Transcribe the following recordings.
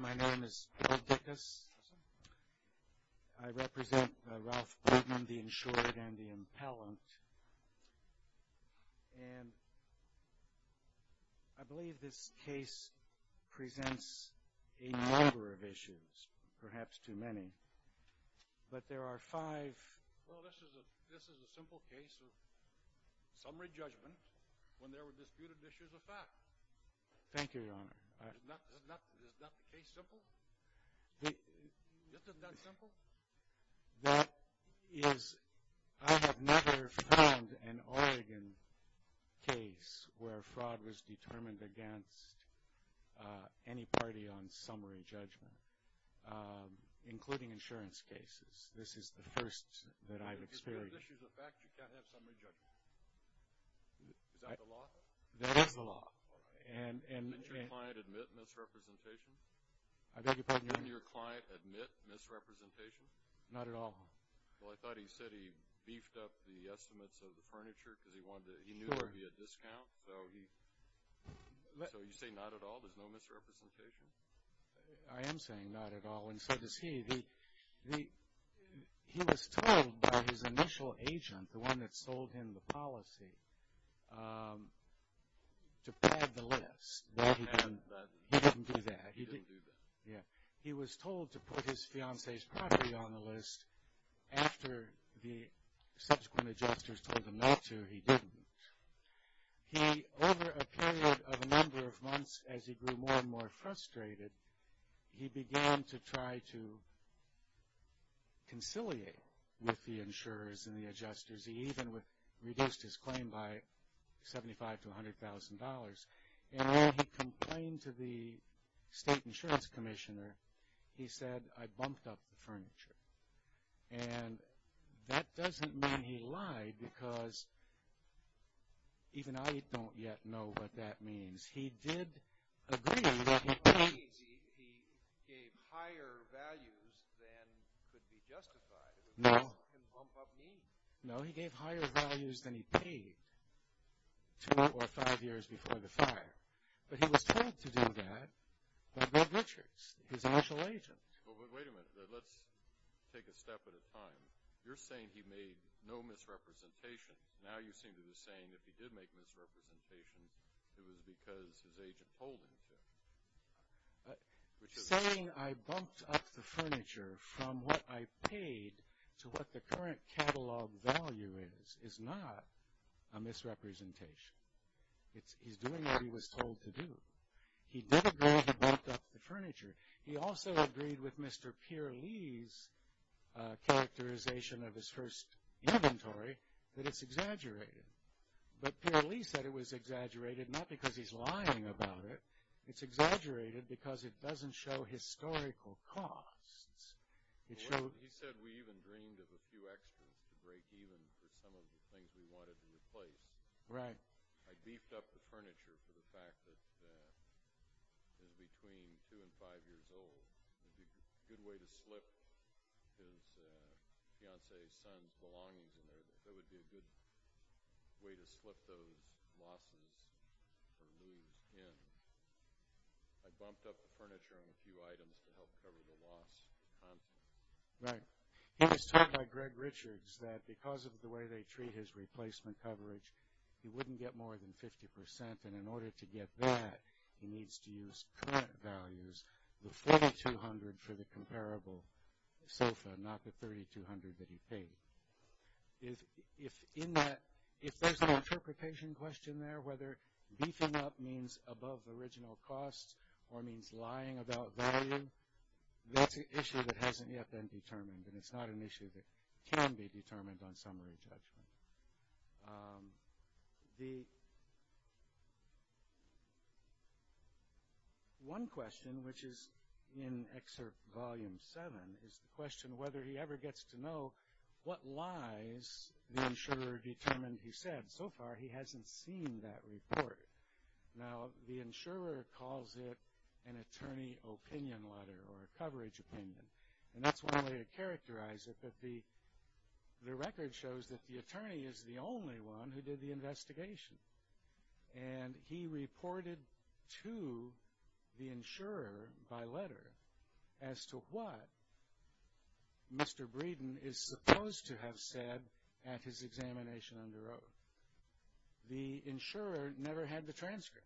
My name is Bill Dickus. I represent Ralph Breeden, the insured and the impellant. And I believe this case presents a number of issues, perhaps too many, but there are five. Well, this is a simple case of summary judgment when there were disputed issues of fact. Thank you, Your Honor. Is not the case simple? This is not simple? That is, I have never found an Oregon case where fraud was determined against any party on summary judgment, including insurance cases. This is the first that I've experienced. If there are issues of fact, you can't have summary judgment? Is that the law? That is the law. Didn't your client admit misrepresentation? I beg your pardon, Your Honor? Didn't your client admit misrepresentation? Not at all. Well, I thought he said he beefed up the estimates of the furniture because he wanted to, he knew there would be a discount, so he, so you say not at all, there's no misrepresentation? I am saying not at all, and so does he. He was told by his initial agent, the one that sold him the policy, to pad the list. He didn't do that? He didn't do that. He was told to put his fiancee's property on the list after the subsequent adjusters told him not to, he didn't. He, over a period of a number of months, as he grew more and more frustrated, he began to try to conciliate with the insurers and the adjusters. He even reduced his claim by $75,000 to $100,000. And when he complained to the state insurance commissioner, he said, I bumped up the furniture. And that doesn't mean he lied, because even I don't yet know what that means. He did agree that he paid. He gave higher values than could be justified. No. Bump up needs. No, he gave higher values than he paid two or five years before the fire. But he was told to do that by Bob Richards, his initial agent. But wait a minute. Let's take a step at a time. You're saying he made no misrepresentations. Now you seem to be saying if he did make misrepresentations, it was because his agent told him to. Saying I bumped up the furniture from what I paid to what the current catalog value is, is not a misrepresentation. He's doing what he was told to do. He did agree he bumped up the furniture. He also agreed with Mr. Peer Lee's characterization of his first inventory that it's exaggerated. But Peer Lee said it was exaggerated not because he's lying about it. It's exaggerated because it doesn't show historical costs. He said we even dreamed of a few extras to break even for some of the things we wanted to replace. Right. I beefed up the furniture for the fact that it was between two and five years old. It would be a good way to slip his fiancée's son's belongings in there. It would be a good way to slip those losses or lose in. I bumped up the furniture on a few items to help cover the loss. Right. He was told by Greg Richards that because of the way they treat his replacement coverage, he wouldn't get more than 50%. And in order to get that, he needs to use current values, the 4,200 for the comparable sofa, not the 3,200 that he paid. If there's an interpretation question there, whether beefing up means above original costs or means lying about value, that's an issue that hasn't yet been determined. And it's not an issue that can be determined on summary judgment. One question, which is in Excerpt Volume 7, is the question whether he ever gets to know what lies the insurer determined he said. So far, he hasn't seen that report. Now, the insurer calls it an attorney opinion letter or a coverage opinion. And that's one way to characterize it. But the record shows that the attorney is the only one who did the investigation. And he reported to the insurer by letter as to what Mr. Breeden is supposed to have said at his examination under oath. The insurer never had the transcript.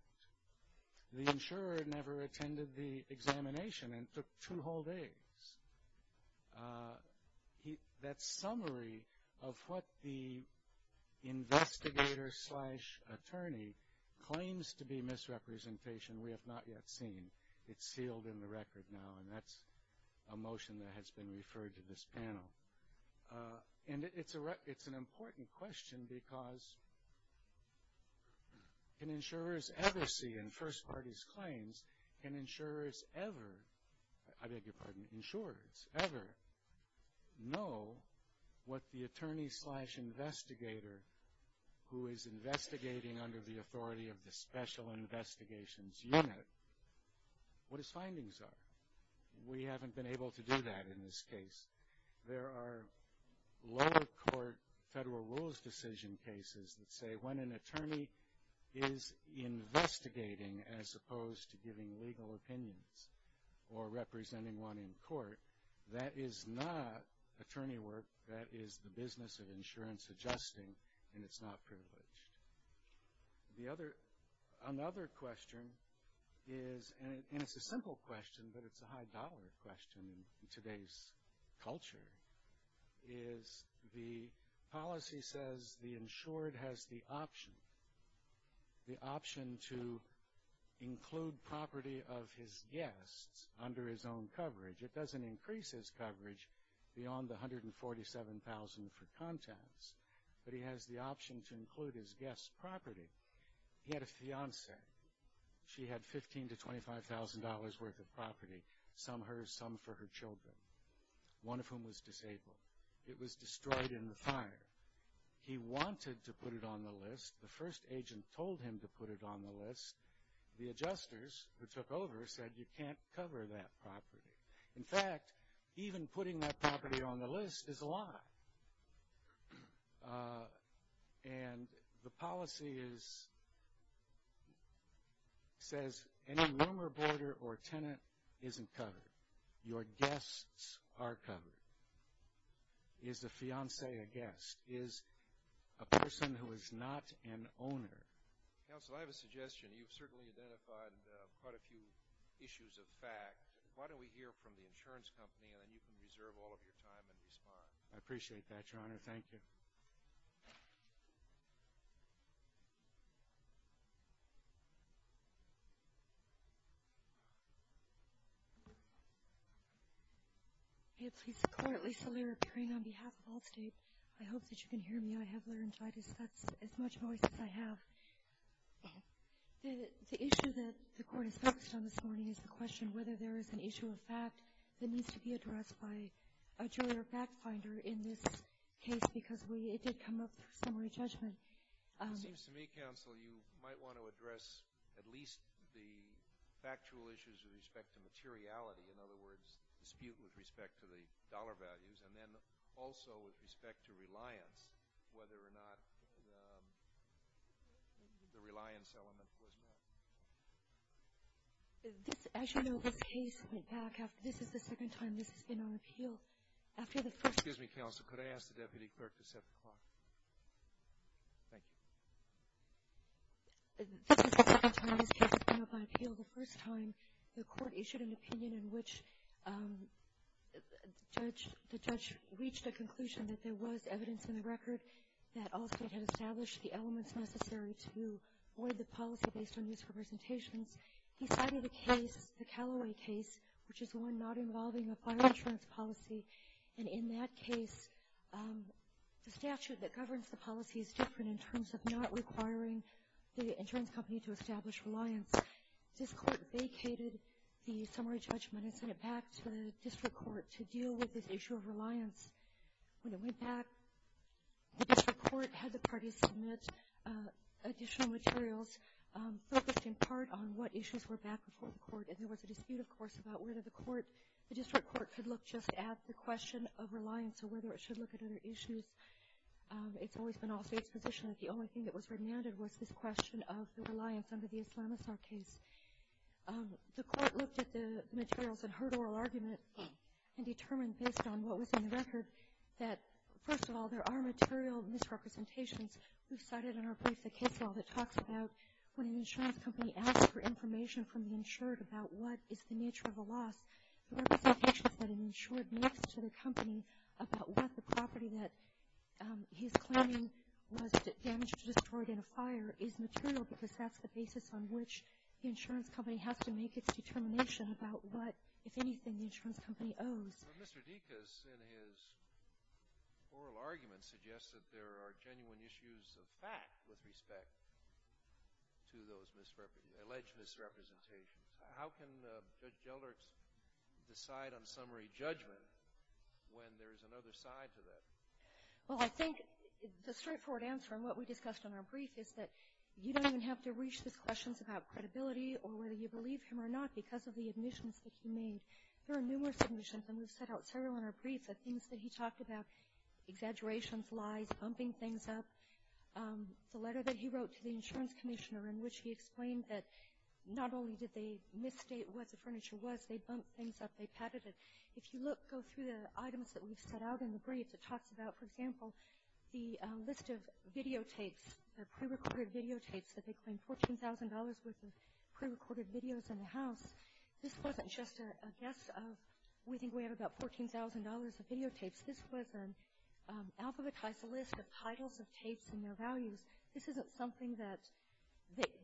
The insurer never attended the examination and took two whole days. That summary of what the investigator slash attorney claims to be misrepresentation, we have not yet seen. It's sealed in the record now, and that's a motion that has been referred to this panel. And it's an important question because can insurers ever see in First Party's claims, can insurers ever, I beg your pardon, insurers ever know what the attorney slash investigator who is investigating under the authority of the Special Investigations Unit, what his findings are? We haven't been able to do that in this case. There are lower court federal rules decision cases that say when an attorney is investigating as opposed to giving legal opinions or representing one in court, that is not attorney work. That is the business of insurance adjusting, and it's not privileged. Another question is, and it's a simple question, but it's a high dollar question in today's culture, is the policy says the insured has the option, the option to include property of his guests under his own coverage. It doesn't increase his coverage beyond the $147,000 for contents, but he has the option to include his guests' property. He had a fiancee. She had $15,000 to $25,000 worth of property, some hers, some for her children, one of whom was disabled. It was destroyed in the fire. He wanted to put it on the list. The first agent told him to put it on the list. The adjusters who took over said you can't cover that property. In fact, even putting that property on the list is a lie. And the policy is, says any room or border or tenant isn't covered. Your guests are covered. Is the fiancee a guest? Is a person who is not an owner? Counsel, I have a suggestion. You've certainly identified quite a few issues of fact. Why don't we hear from the insurance company, and then you can reserve all of your time and respond. I appreciate that, Your Honor. Thank you. May it please the Court, Lisa Lerer, appearing on behalf of Allstate. I hope that you can hear me. I have laryngitis. That's as much noise as I have. The issue that the Court is focused on this morning is the question whether there is an issue of fact that needs to be addressed by a jury or fact finder in this case because it did come up for summary judgment. It seems to me, Counsel, you might want to address at least the factual issues with respect to materiality, in other words, dispute with respect to the dollar values, and then also with respect to reliance, whether or not the reliance element was met. As you know, this case went back. This is the second time this has been on appeal. After the first ---- Excuse me, Counsel. Could I ask the Deputy Clerk to set the clock? Thank you. This is the second time this case has been on appeal. The first time, the Court issued an opinion in which the judge reached a conclusion that there was evidence in the record that Allstate had established the elements necessary to void the policy based on these representations. He cited a case, the Callaway case, which is the one not involving a fire insurance policy, and in that case the statute that governs the policy is different in terms of not requiring the insurance company to establish reliance. This Court vacated the summary judgment and sent it back to the District Court to deal with this issue of reliance. When it went back, the District Court had the parties submit additional materials focused in part on what issues were back before the Court, and there was a dispute, of course, about whether the District Court should look just at the question of reliance or whether it should look at other issues. It's always been Allstate's position that the only thing that was remanded was this question of the reliance under the Islamazar case. The Court looked at the materials and heard oral argument and determined based on what was in the record that, first of all, there are material misrepresentations. We cited in our brief the case law that talks about when an insurance company asks for information from the insured about what is the nature of a loss, the representations that an insured makes to the company about what the property that he's claiming was damaged or destroyed in a fire is material because that's the basis on which the insurance company has to make its determination about what, if anything, the insurance company owes. Well, Mr. Dikas, in his oral argument, suggests that there are genuine issues of fact with respect to those alleged misrepresentations. How can Judge Gellert decide on summary judgment when there is another side to that? Well, I think the straightforward answer in what we discussed in our brief is that you don't even have to reach these questions about credibility or whether you believe him or not because of the admissions that he made. There are numerous admissions, and we've set out several in our brief of things that he talked about, exaggerations, lies, bumping things up. The letter that he wrote to the insurance commissioner in which he explained that not only did they misstate what the furniture was, they bumped things up, they patted it. If you go through the items that we've set out in the briefs, it talks about, for example, the list of videotapes, the prerecorded videotapes that they claim $14,000 worth of prerecorded videos in the house. This wasn't just a guess of we think we have about $14,000 of videotapes. This was an alphabetized list of titles of tapes and their values. This isn't something that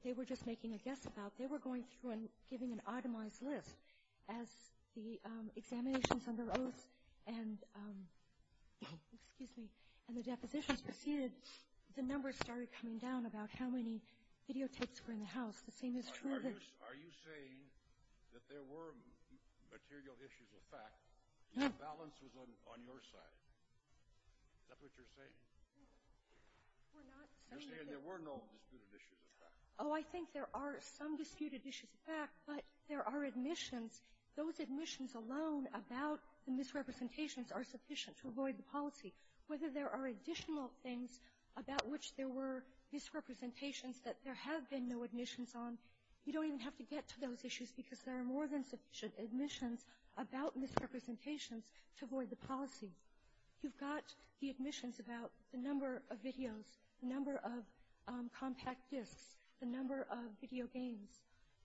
they were just making a guess about. They were going through and giving an itemized list. As the examinations under oath and the depositions proceeded, the numbers started coming down about how many videotapes were in the house. The same is true. Are you saying that there were material issues of fact and the balance was on your side? Is that what you're saying? Oh, I think there are some disputed issues of fact, but there are admissions. Those admissions alone about the misrepresentations are sufficient to avoid the policy. Whether there are additional things about which there were misrepresentations that there have been no admissions on, you don't even have to get to those issues because there are more than sufficient admissions about misrepresentations to avoid the policy. You've got the admissions about the number of videos, the number of compact discs, the number of video games.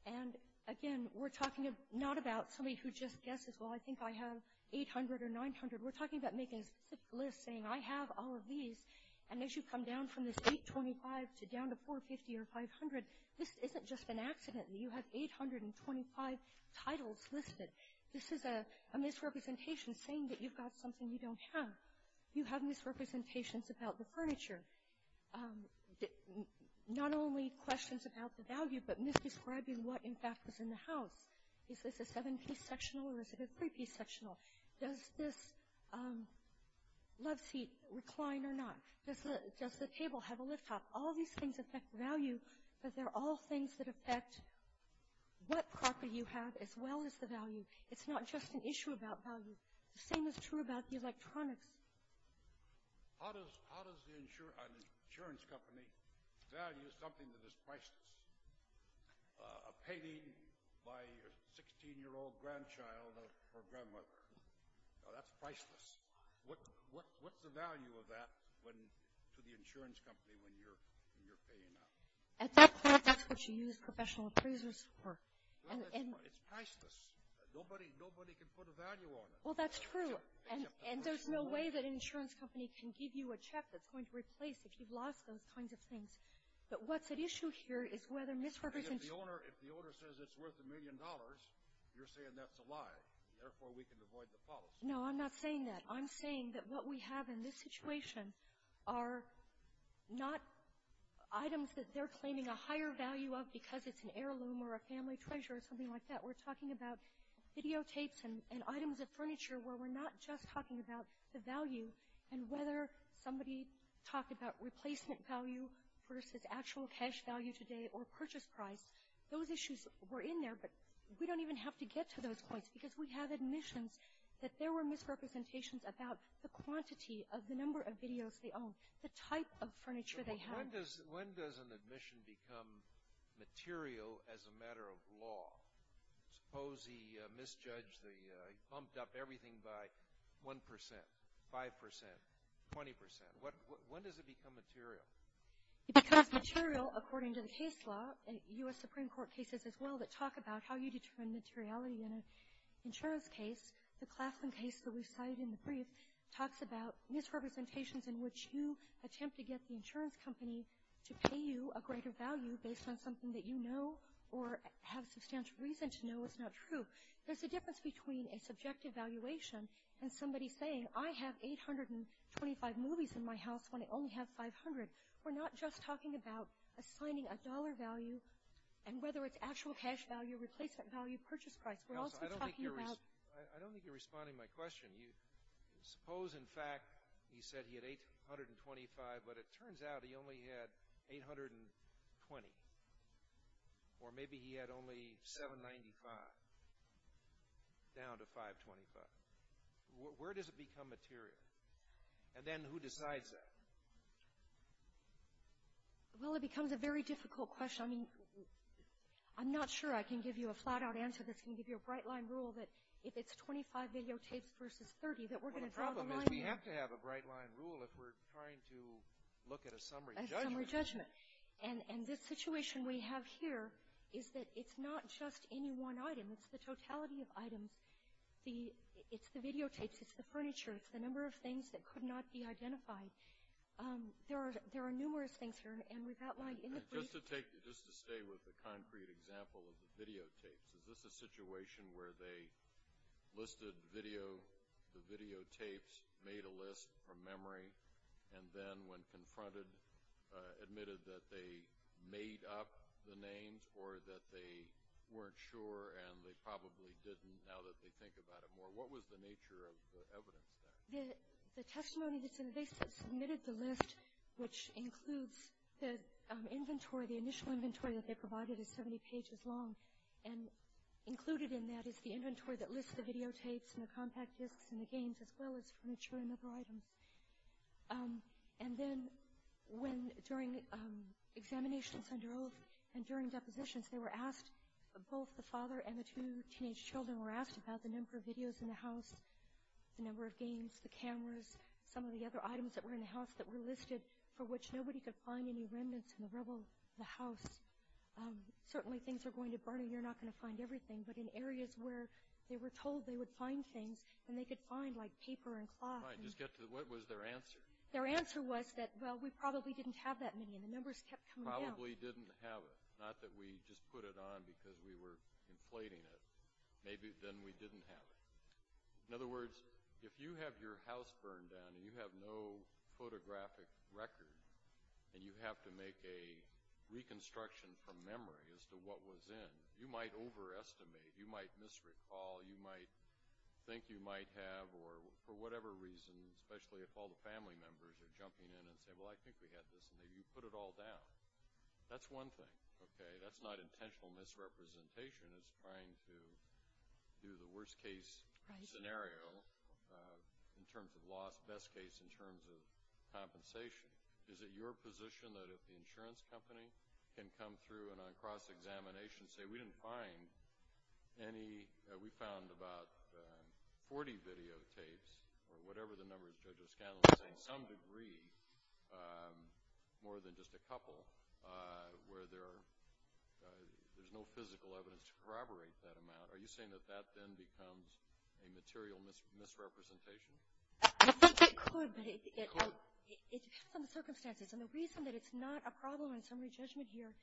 And, again, we're talking not about somebody who just guesses, well, I think I have 800 or 900. We're talking about making a specific list saying I have all of these. And as you come down from this 825 to down to 450 or 500, this isn't just an accident. You have 825 titles listed. This is a misrepresentation saying that you've got something you don't have. You have misrepresentations about the furniture, not only questions about the value, but misdescribing what, in fact, was in the house. Is this a seven-piece sectional or is it a three-piece sectional? Does this love seat recline or not? Does the table have a lift top? All these things affect value, but they're all things that affect what property you have as well as the value. It's not just an issue about value. The same is true about the electronics. How does an insurance company value something that is priceless? A painting by a 16-year-old grandchild or grandmother, that's priceless. What's the value of that to the insurance company when you're paying out? At that point, that's what you use professional appraisers for. It's priceless. Nobody can put a value on it. Well, that's true. And there's no way that an insurance company can give you a check that's going to replace if you've lost those kinds of things. But what's at issue here is whether misrepresentation — If the owner says it's worth a million dollars, you're saying that's a lie. Therefore, we can avoid the policy. No, I'm not saying that. I'm saying that what we have in this situation are not items that they're claiming a higher value of because it's an heirloom or a family treasure or something like that. We're talking about videotapes and items of furniture where we're not just talking about the value and whether somebody talked about replacement value versus actual cash value today or purchase price. Those issues were in there, but we don't even have to get to those points because we have admissions that there were misrepresentations about the quantity of the number of videos they own, the type of furniture they have. When does an admission become material as a matter of law? Suppose he misjudged the — he bumped up everything by 1 percent, 5 percent, 20 percent. When does it become material? It becomes material, according to the case law, and U.S. Supreme Court cases as well, that talk about how you determine materiality in an insurance case. The Claflin case that we cited in the brief talks about misrepresentations in which you attempt to get the insurance company to pay you a greater value based on something that you know or have substantial reason to know is not true. There's a difference between a subjective valuation and somebody saying, I have 825 movies in my house when I only have 500. We're not just talking about assigning a dollar value and whether it's actual cash value, replacement value, purchase price. We're also talking about — I don't think you're responding to my question. Suppose, in fact, he said he had 825, but it turns out he only had 820. Or maybe he had only 795, down to 525. Where does it become material? And then who decides that? Well, it becomes a very difficult question. I mean, I'm not sure I can give you a flat-out answer that's going to give you a bright-line rule that if it's 25 videotapes versus 30 that we're going to draw the line there. Well, the problem is we have to have a bright-line rule if we're trying to look at a summary judgment. At a summary judgment. And this situation we have here is that it's not just any one item. It's the totality of items. It's the videotapes. It's the furniture. It's the number of things that could not be identified. There are numerous things here, and we've outlined in the brief. Just to take — just to stay with the concrete example of the videotapes, is this a situation where they listed video, the videotapes, made a list from memory, and then when confronted admitted that they made up the names or that they weren't sure and they probably didn't now that they think about it more? What was the nature of the evidence there? The testimony that's in the case that submitted the list, which includes the inventory, the initial inventory that they provided is 70 pages long, and included in that is the inventory that lists the videotapes and the compact disks and the games as well as furniture and other items. And then when, during examinations under oath and during depositions, they were asked — both the father and the two teenage children were asked about the number of videos in the house, the number of games, the cameras, some of the other items that were in the house that were listed for which nobody could find any remnants in the rubble of the house. Certainly things are going to burn, and you're not going to find everything, but in areas where they were told they would find things, and they could find, like, paper and cloth. All right. Just get to the — what was their answer? Their answer was that, well, we probably didn't have that many, and the numbers kept coming down. Probably didn't have it. Not that we just put it on because we were inflating it. Maybe then we didn't have it. In other words, if you have your house burned down and you have no photographic record, and you have to make a reconstruction from memory as to what was in, you might overestimate, you might misrecall, you might think you might have, or for whatever reason, especially if all the family members are jumping in and say, well, I think we had this, and maybe you put it all down. That's one thing, okay? That's not intentional misrepresentation. It's trying to do the worst-case scenario in terms of loss, best case in terms of compensation. Is it your position that if the insurance company can come through and on cross-examination say, we didn't find any — we found about 40 videotapes or whatever the number is, Judge O'Scanlon is saying, some degree, more than just a couple, where there's no physical evidence to corroborate that amount, are you saying that that then becomes a material misrepresentation? I think it could, but it depends on the circumstances. And the reason that it's not a problem in summary judgment here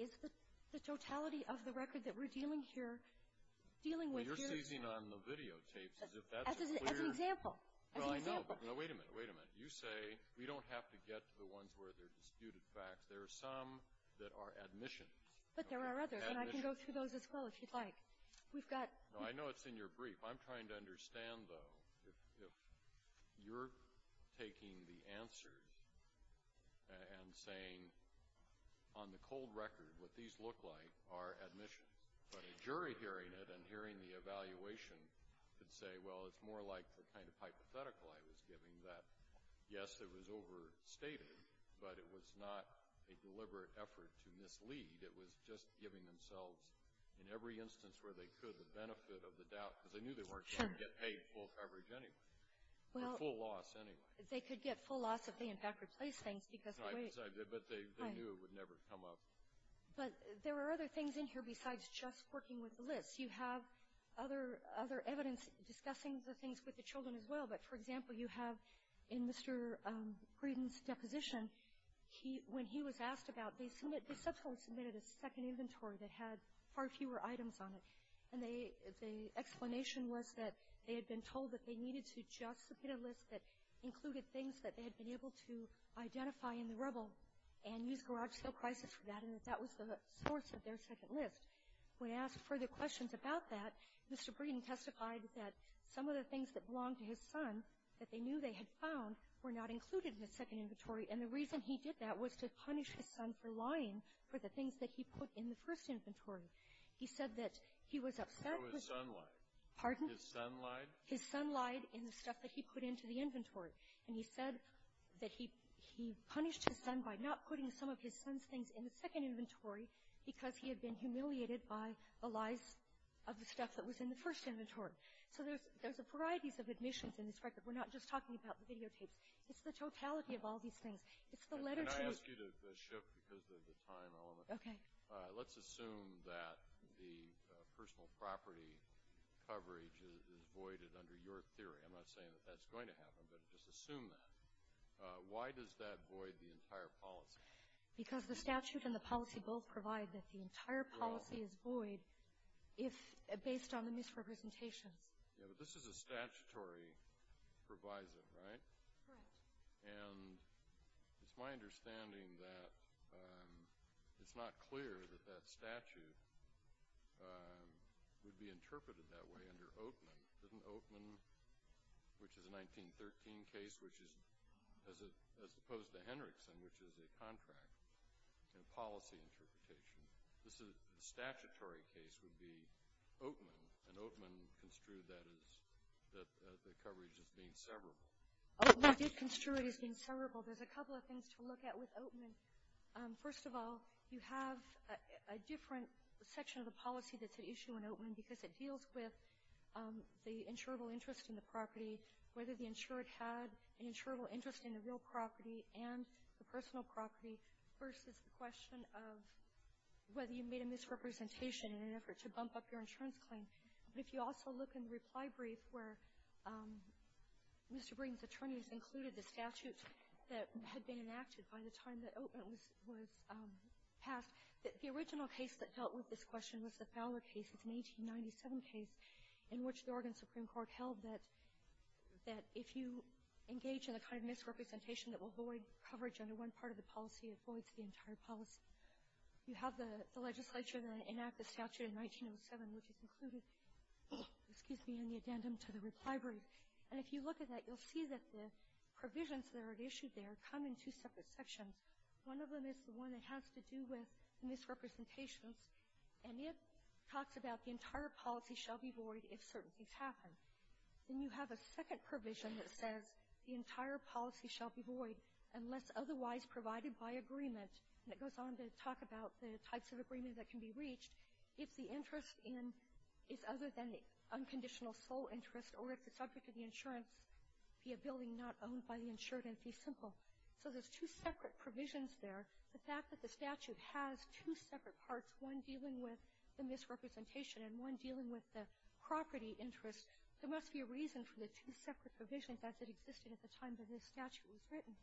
is the totality of the record that we're dealing here, dealing with here — Well, I know, but wait a minute, wait a minute. You say we don't have to get to the ones where there are disputed facts. There are some that are admissions. But there are others, and I can go through those as well if you'd like. We've got — No, I know it's in your brief. I'm trying to understand, though, if you're taking the answers and saying on the cold record what these look like are admissions, but a jury hearing it and hearing the evaluation could say, well, it's more like the kind of hypothetical I was giving, that, yes, it was overstated, but it was not a deliberate effort to mislead. It was just giving themselves, in every instance where they could, the benefit of the doubt, because they knew they weren't going to get paid full coverage anyway, or full loss anyway. They could get full loss if they, in fact, replaced things because of the weight. Right, but they knew it would never come up. But there are other things in here besides just working with the lists. You have other evidence discussing the things with the children as well. But, for example, you have in Mr. Green's deposition, when he was asked about, they subsequently submitted a second inventory that had far fewer items on it. And the explanation was that they had been told that they needed to just submit a list that included things that they had been able to identify in the rubble and use garage sale crisis for that, and that that was the source of their second list. When asked further questions about that, Mr. Green testified that some of the things that belonged to his son, that they knew they had found, were not included in his second inventory. And the reason he did that was to punish his son for lying for the things that he put in the first inventory. He said that he was upset with his son lied in the stuff that he put into the inventory. And he said that he punished his son by not putting some of his son's things in the second inventory because he had been humiliated by the lies of the stuff that was in the first inventory. So there's a variety of admissions in this record. We're not just talking about the videotapes. It's the totality of all these things. It's the letter to each. Kennedy. Can I ask you to shift because of the time element? Okay. Let's assume that the personal property coverage is voided under your theory. I'm not saying that that's going to happen, but just assume that. Why does that void the entire policy? Because the statute and the policy both provide that the entire policy is void based on the misrepresentations. Yeah, but this is a statutory proviso, right? Correct. And it's my understanding that it's not clear that that statute would be interpreted that way under Oatman. Isn't Oatman, which is a 1913 case, which is as opposed to Hendrickson, which is a contract and policy interpretation. The statutory case would be Oatman, and Oatman construed that as the coverage as being severable. Oatman is construed as being severable. There's a couple of things to look at with Oatman. First of all, you have a different section of the policy that's at issue in Oatman because it deals with the insurable interest in the property, whether the insured had an insurable interest in the real property and the personal property versus the question of whether you made a misrepresentation in an effort to bump up your insurance claim. But if you also look in the reply brief where Mr. Breen's attorneys included the statute that had been enacted by the time that Oatman was passed, that the original case that dealt with this question was the Fowler case. It's an 1897 case in which the Oregon Supreme Court held that if you engage in a kind of misrepresentation that will void coverage under one part of the policy, it voids the entire policy. You have the legislature that enacted the statute in 1907, which is included, excuse me, in the addendum to the reply brief. And if you look at that, you'll see that the provisions that are issued there come in two separate sections. One of them is the one that has to do with misrepresentations, and it talks about the entire policy shall be void if certain things happen. Then you have a second provision that says the entire policy shall be void unless otherwise provided by agreement. And it goes on to talk about the types of agreement that can be reached if the interest in is other than the unconditional sole interest or if the subject of the insurance be a building not owned by the insured entity, simple. So there's two separate provisions there. The fact that the statute has two separate parts, one dealing with the misrepresentation and one dealing with the property interest, there must be a reason for the two separate provisions as it existed at the time that this statute was written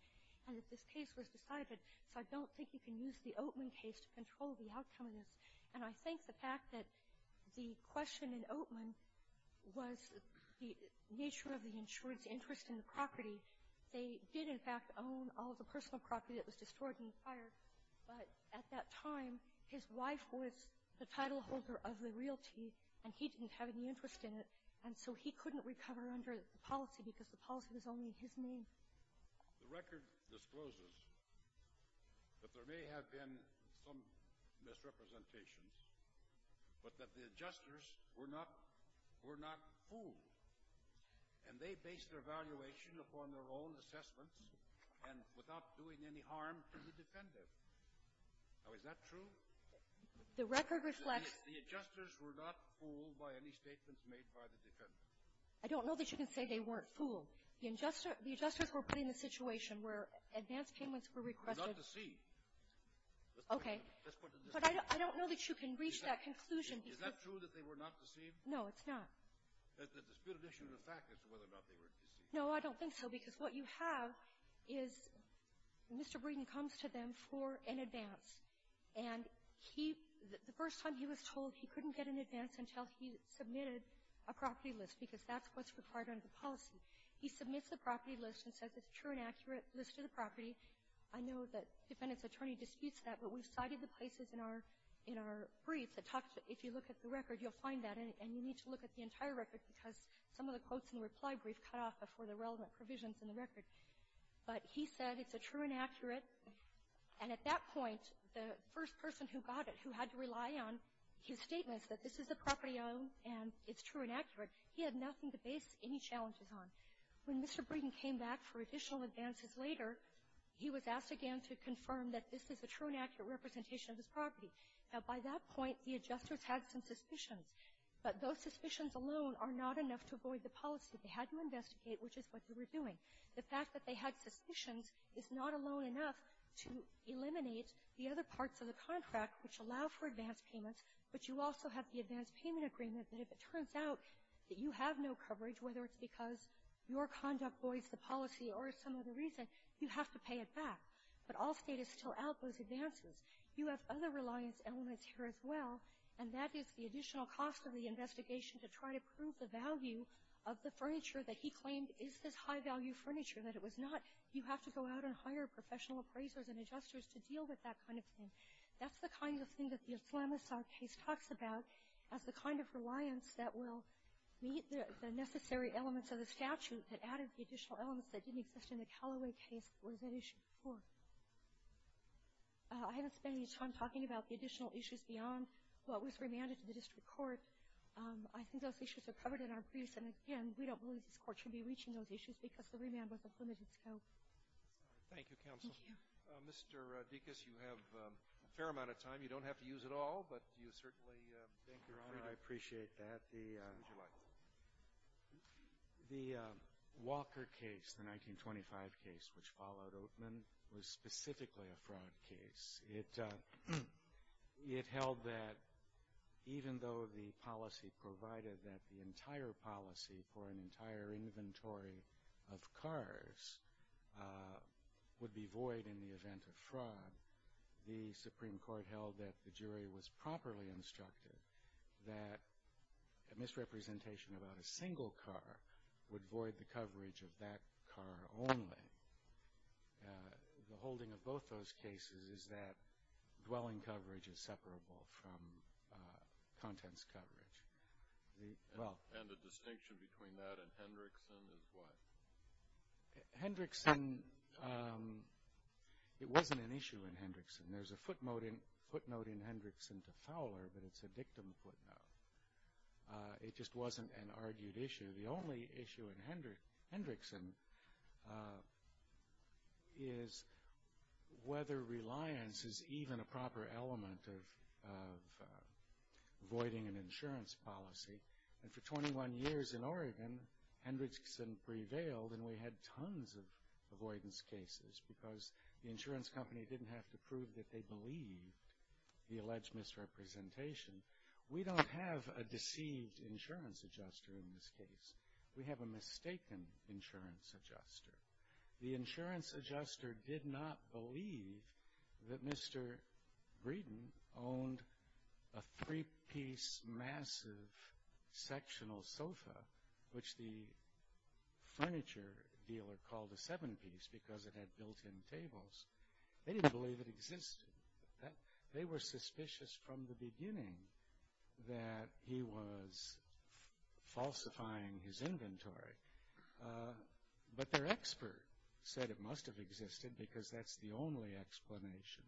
and that this case was decided. So I don't think you can use the Oatman case to control the outcome of this. And I think the fact that the question in Oatman was the nature of the insured's interest in the property. They did, in fact, own all of the personal property that was destroyed in the fire. But at that time, his wife was the titleholder of the realty, and he didn't have any interest in it. And so he couldn't recover under the policy because the policy was only in his name. The record discloses that there may have been some misrepresentations, but that the adjusters were not — were not fooled. And they based their evaluation upon their own assessments and without doing any harm to the defendant. Now, is that true? The record reflects — The adjusters were not fooled by any statements made by the defendant. I don't know that you can say they weren't fooled. The adjusters were put in a situation where advance payments were requested. They were not deceived. Okay. Let's put it this way. But I don't know that you can reach that conclusion because — Is that true that they were not deceived? No, it's not. There's been an issue in the fact as to whether or not they were deceived. No, I don't think so, because what you have is Mr. Breeden comes to them for an advance, and he — the first time he was told, he couldn't get an advance until he submitted a property list because that's what's required under the policy. He submits the property list and says it's a true and accurate list of the property. I know that the defendant's attorney disputes that, but we've cited the places in our — in our brief that talks — if you look at the record, you'll find that. And you need to look at the entire record because some of the quotes in the reply brief cut off before the relevant provisions in the record. But he said it's a true and accurate. And at that point, the first person who got it, who had to rely on his statements that this is the property I own and it's true and accurate, he had nothing to base any challenges on. When Mr. Breeden came back for additional advances later, he was asked again to confirm that this is a true and accurate representation of his property. Now, by that point, the adjusters had some suspicions, but those suspicions alone are not enough to avoid the policy. They had to investigate, which is what they were doing. The fact that they had suspicions is not alone enough to eliminate the other parts of the contract which allow for advance payments, but you also have the advance payment agreement that if it turns out that you have no coverage, whether it's because your conduct voids the policy or some other reason, you have to pay it back. But Allstate is still out those advances. You have other reliance elements here as well, and that is the additional cost of the investigation to try to prove the value of the furniture that he claimed is this high-value furniture, that it was not — you have to go out and hire professional appraisers and adjusters to deal with that kind of thing. That's the kind of thing that the Islamisar case talks about as the kind of reliance that will meet the necessary elements of the statute that added the additional elements that didn't exist in the Callaway case or that issue before. I haven't spent any time talking about the additional issues beyond what was remanded to the district court. I think those issues are covered in our briefs, and again, we don't believe this court should be reaching those issues because the remand was of limited scope. Thank you, Counsel. Thank you. Mr. Dekas, you have a fair amount of time. You don't have to use it all, but you certainly — Thank you, Your Honor. I appreciate that. The — Yes, would you like? The Walker case, the 1925 case, which followed Oatman, was specifically a fraud case. It held that even though the policy provided that the entire policy for an entire inventory of cars would be void in the event of fraud, the Supreme Court held that the jury was properly instructed that a misrepresentation about a single car would void the coverage of that car only. The holding of both those cases is that dwelling coverage is separable from contents coverage. And the distinction between that and Hendrickson is what? Hendrickson — it wasn't an issue in Hendrickson. There's a footnote in Hendrickson to Fowler, but it's a dictum footnote. It just wasn't an argued issue. The only issue in Hendrickson is whether reliance is even a proper element of voiding an insurance policy. And for 21 years in Oregon, Hendrickson prevailed and we had tons of avoidance cases because the insurance company didn't have to prove that they believed the alleged misrepresentation. We don't have a deceived insurance adjuster in this case. We have a mistaken insurance adjuster. The insurance adjuster did not believe that Mr. Breeden owned a three-piece, massive, sectional sofa, which the furniture dealer called a seven-piece because it had built-in tables. They didn't believe it existed. They were suspicious from the beginning that he was falsifying his inventory. But their expert said it must have existed because that's the only explanation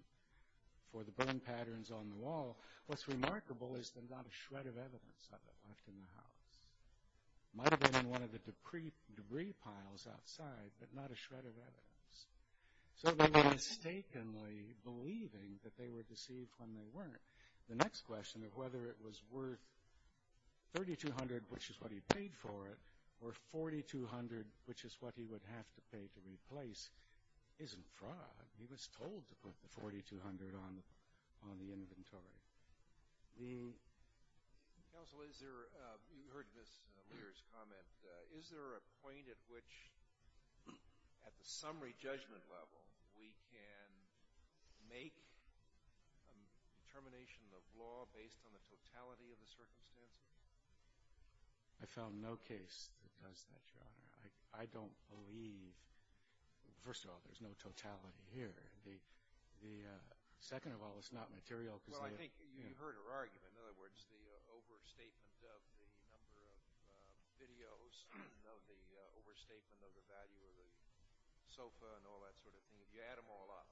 for the burn patterns on the wall. What's remarkable is there's not a shred of evidence of it left in the house. It might have been in one of the debris piles outside, but not a shred of evidence. So they were mistakenly believing that they were deceived when they weren't. The next question of whether it was worth $3,200, which is what he paid for it, or $4,200, which is what he would have to pay to replace, isn't fraud. He was told to put the $4,200 on the inventory. Counsel, you heard Ms. Lear's comment. Is there a point at which, at the summary judgment level, we can make a determination of law based on the totality of the circumstances? I found no case that does that, Your Honor. I don't believe, first of all, there's no totality here. Second of all, it's not material. Well, I think you heard her argument. In other words, the overstatement of the number of videos, the overstatement of the value of the sofa and all that sort of thing, you add them all up.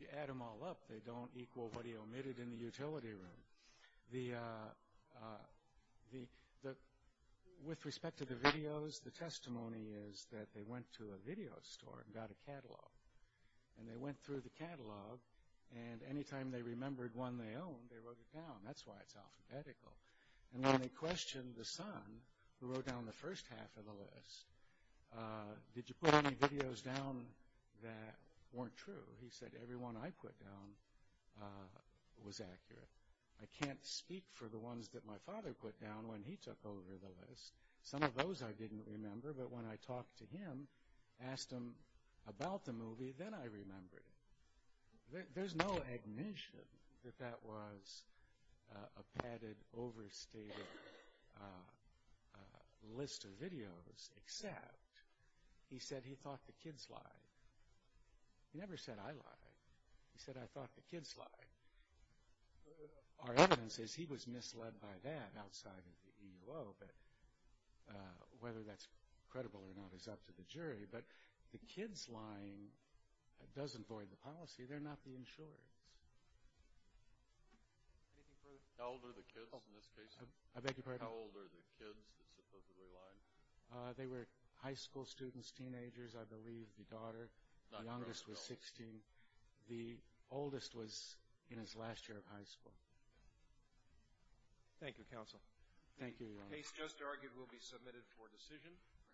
You add them all up. They don't equal what he omitted in the utility room. With respect to the videos, the testimony is that they went to a video store and got a catalog, and they went through the catalog, and any time they remembered one they owned, they wrote it down. That's why it's alphabetical. And when they questioned the son, who wrote down the first half of the list, did you put any videos down that weren't true? He said, everyone I put down was accurate. I can't speak for the ones that my father put down when he took over the list. Some of those I didn't remember, but when I talked to him, asked him about the movie, then I remembered it. There's no ignition that that was a padded, overstated list of videos, except he said he thought the kids lied. He never said I lied. He said I thought the kids lied. Our evidence is he was misled by that outside of the EUO, but whether that's credible or not is up to the jury. But the kids lying doesn't void the policy. They're not the insurers. Anything further? How old are the kids in this case? I beg your pardon? How old are the kids that supposedly lied? They were high school students, teenagers, I believe, the daughter. The youngest was 16. The oldest was in his last year of high school. Thank you, counsel. Thank you, Your Honor. The case just argued will be submitted for decision.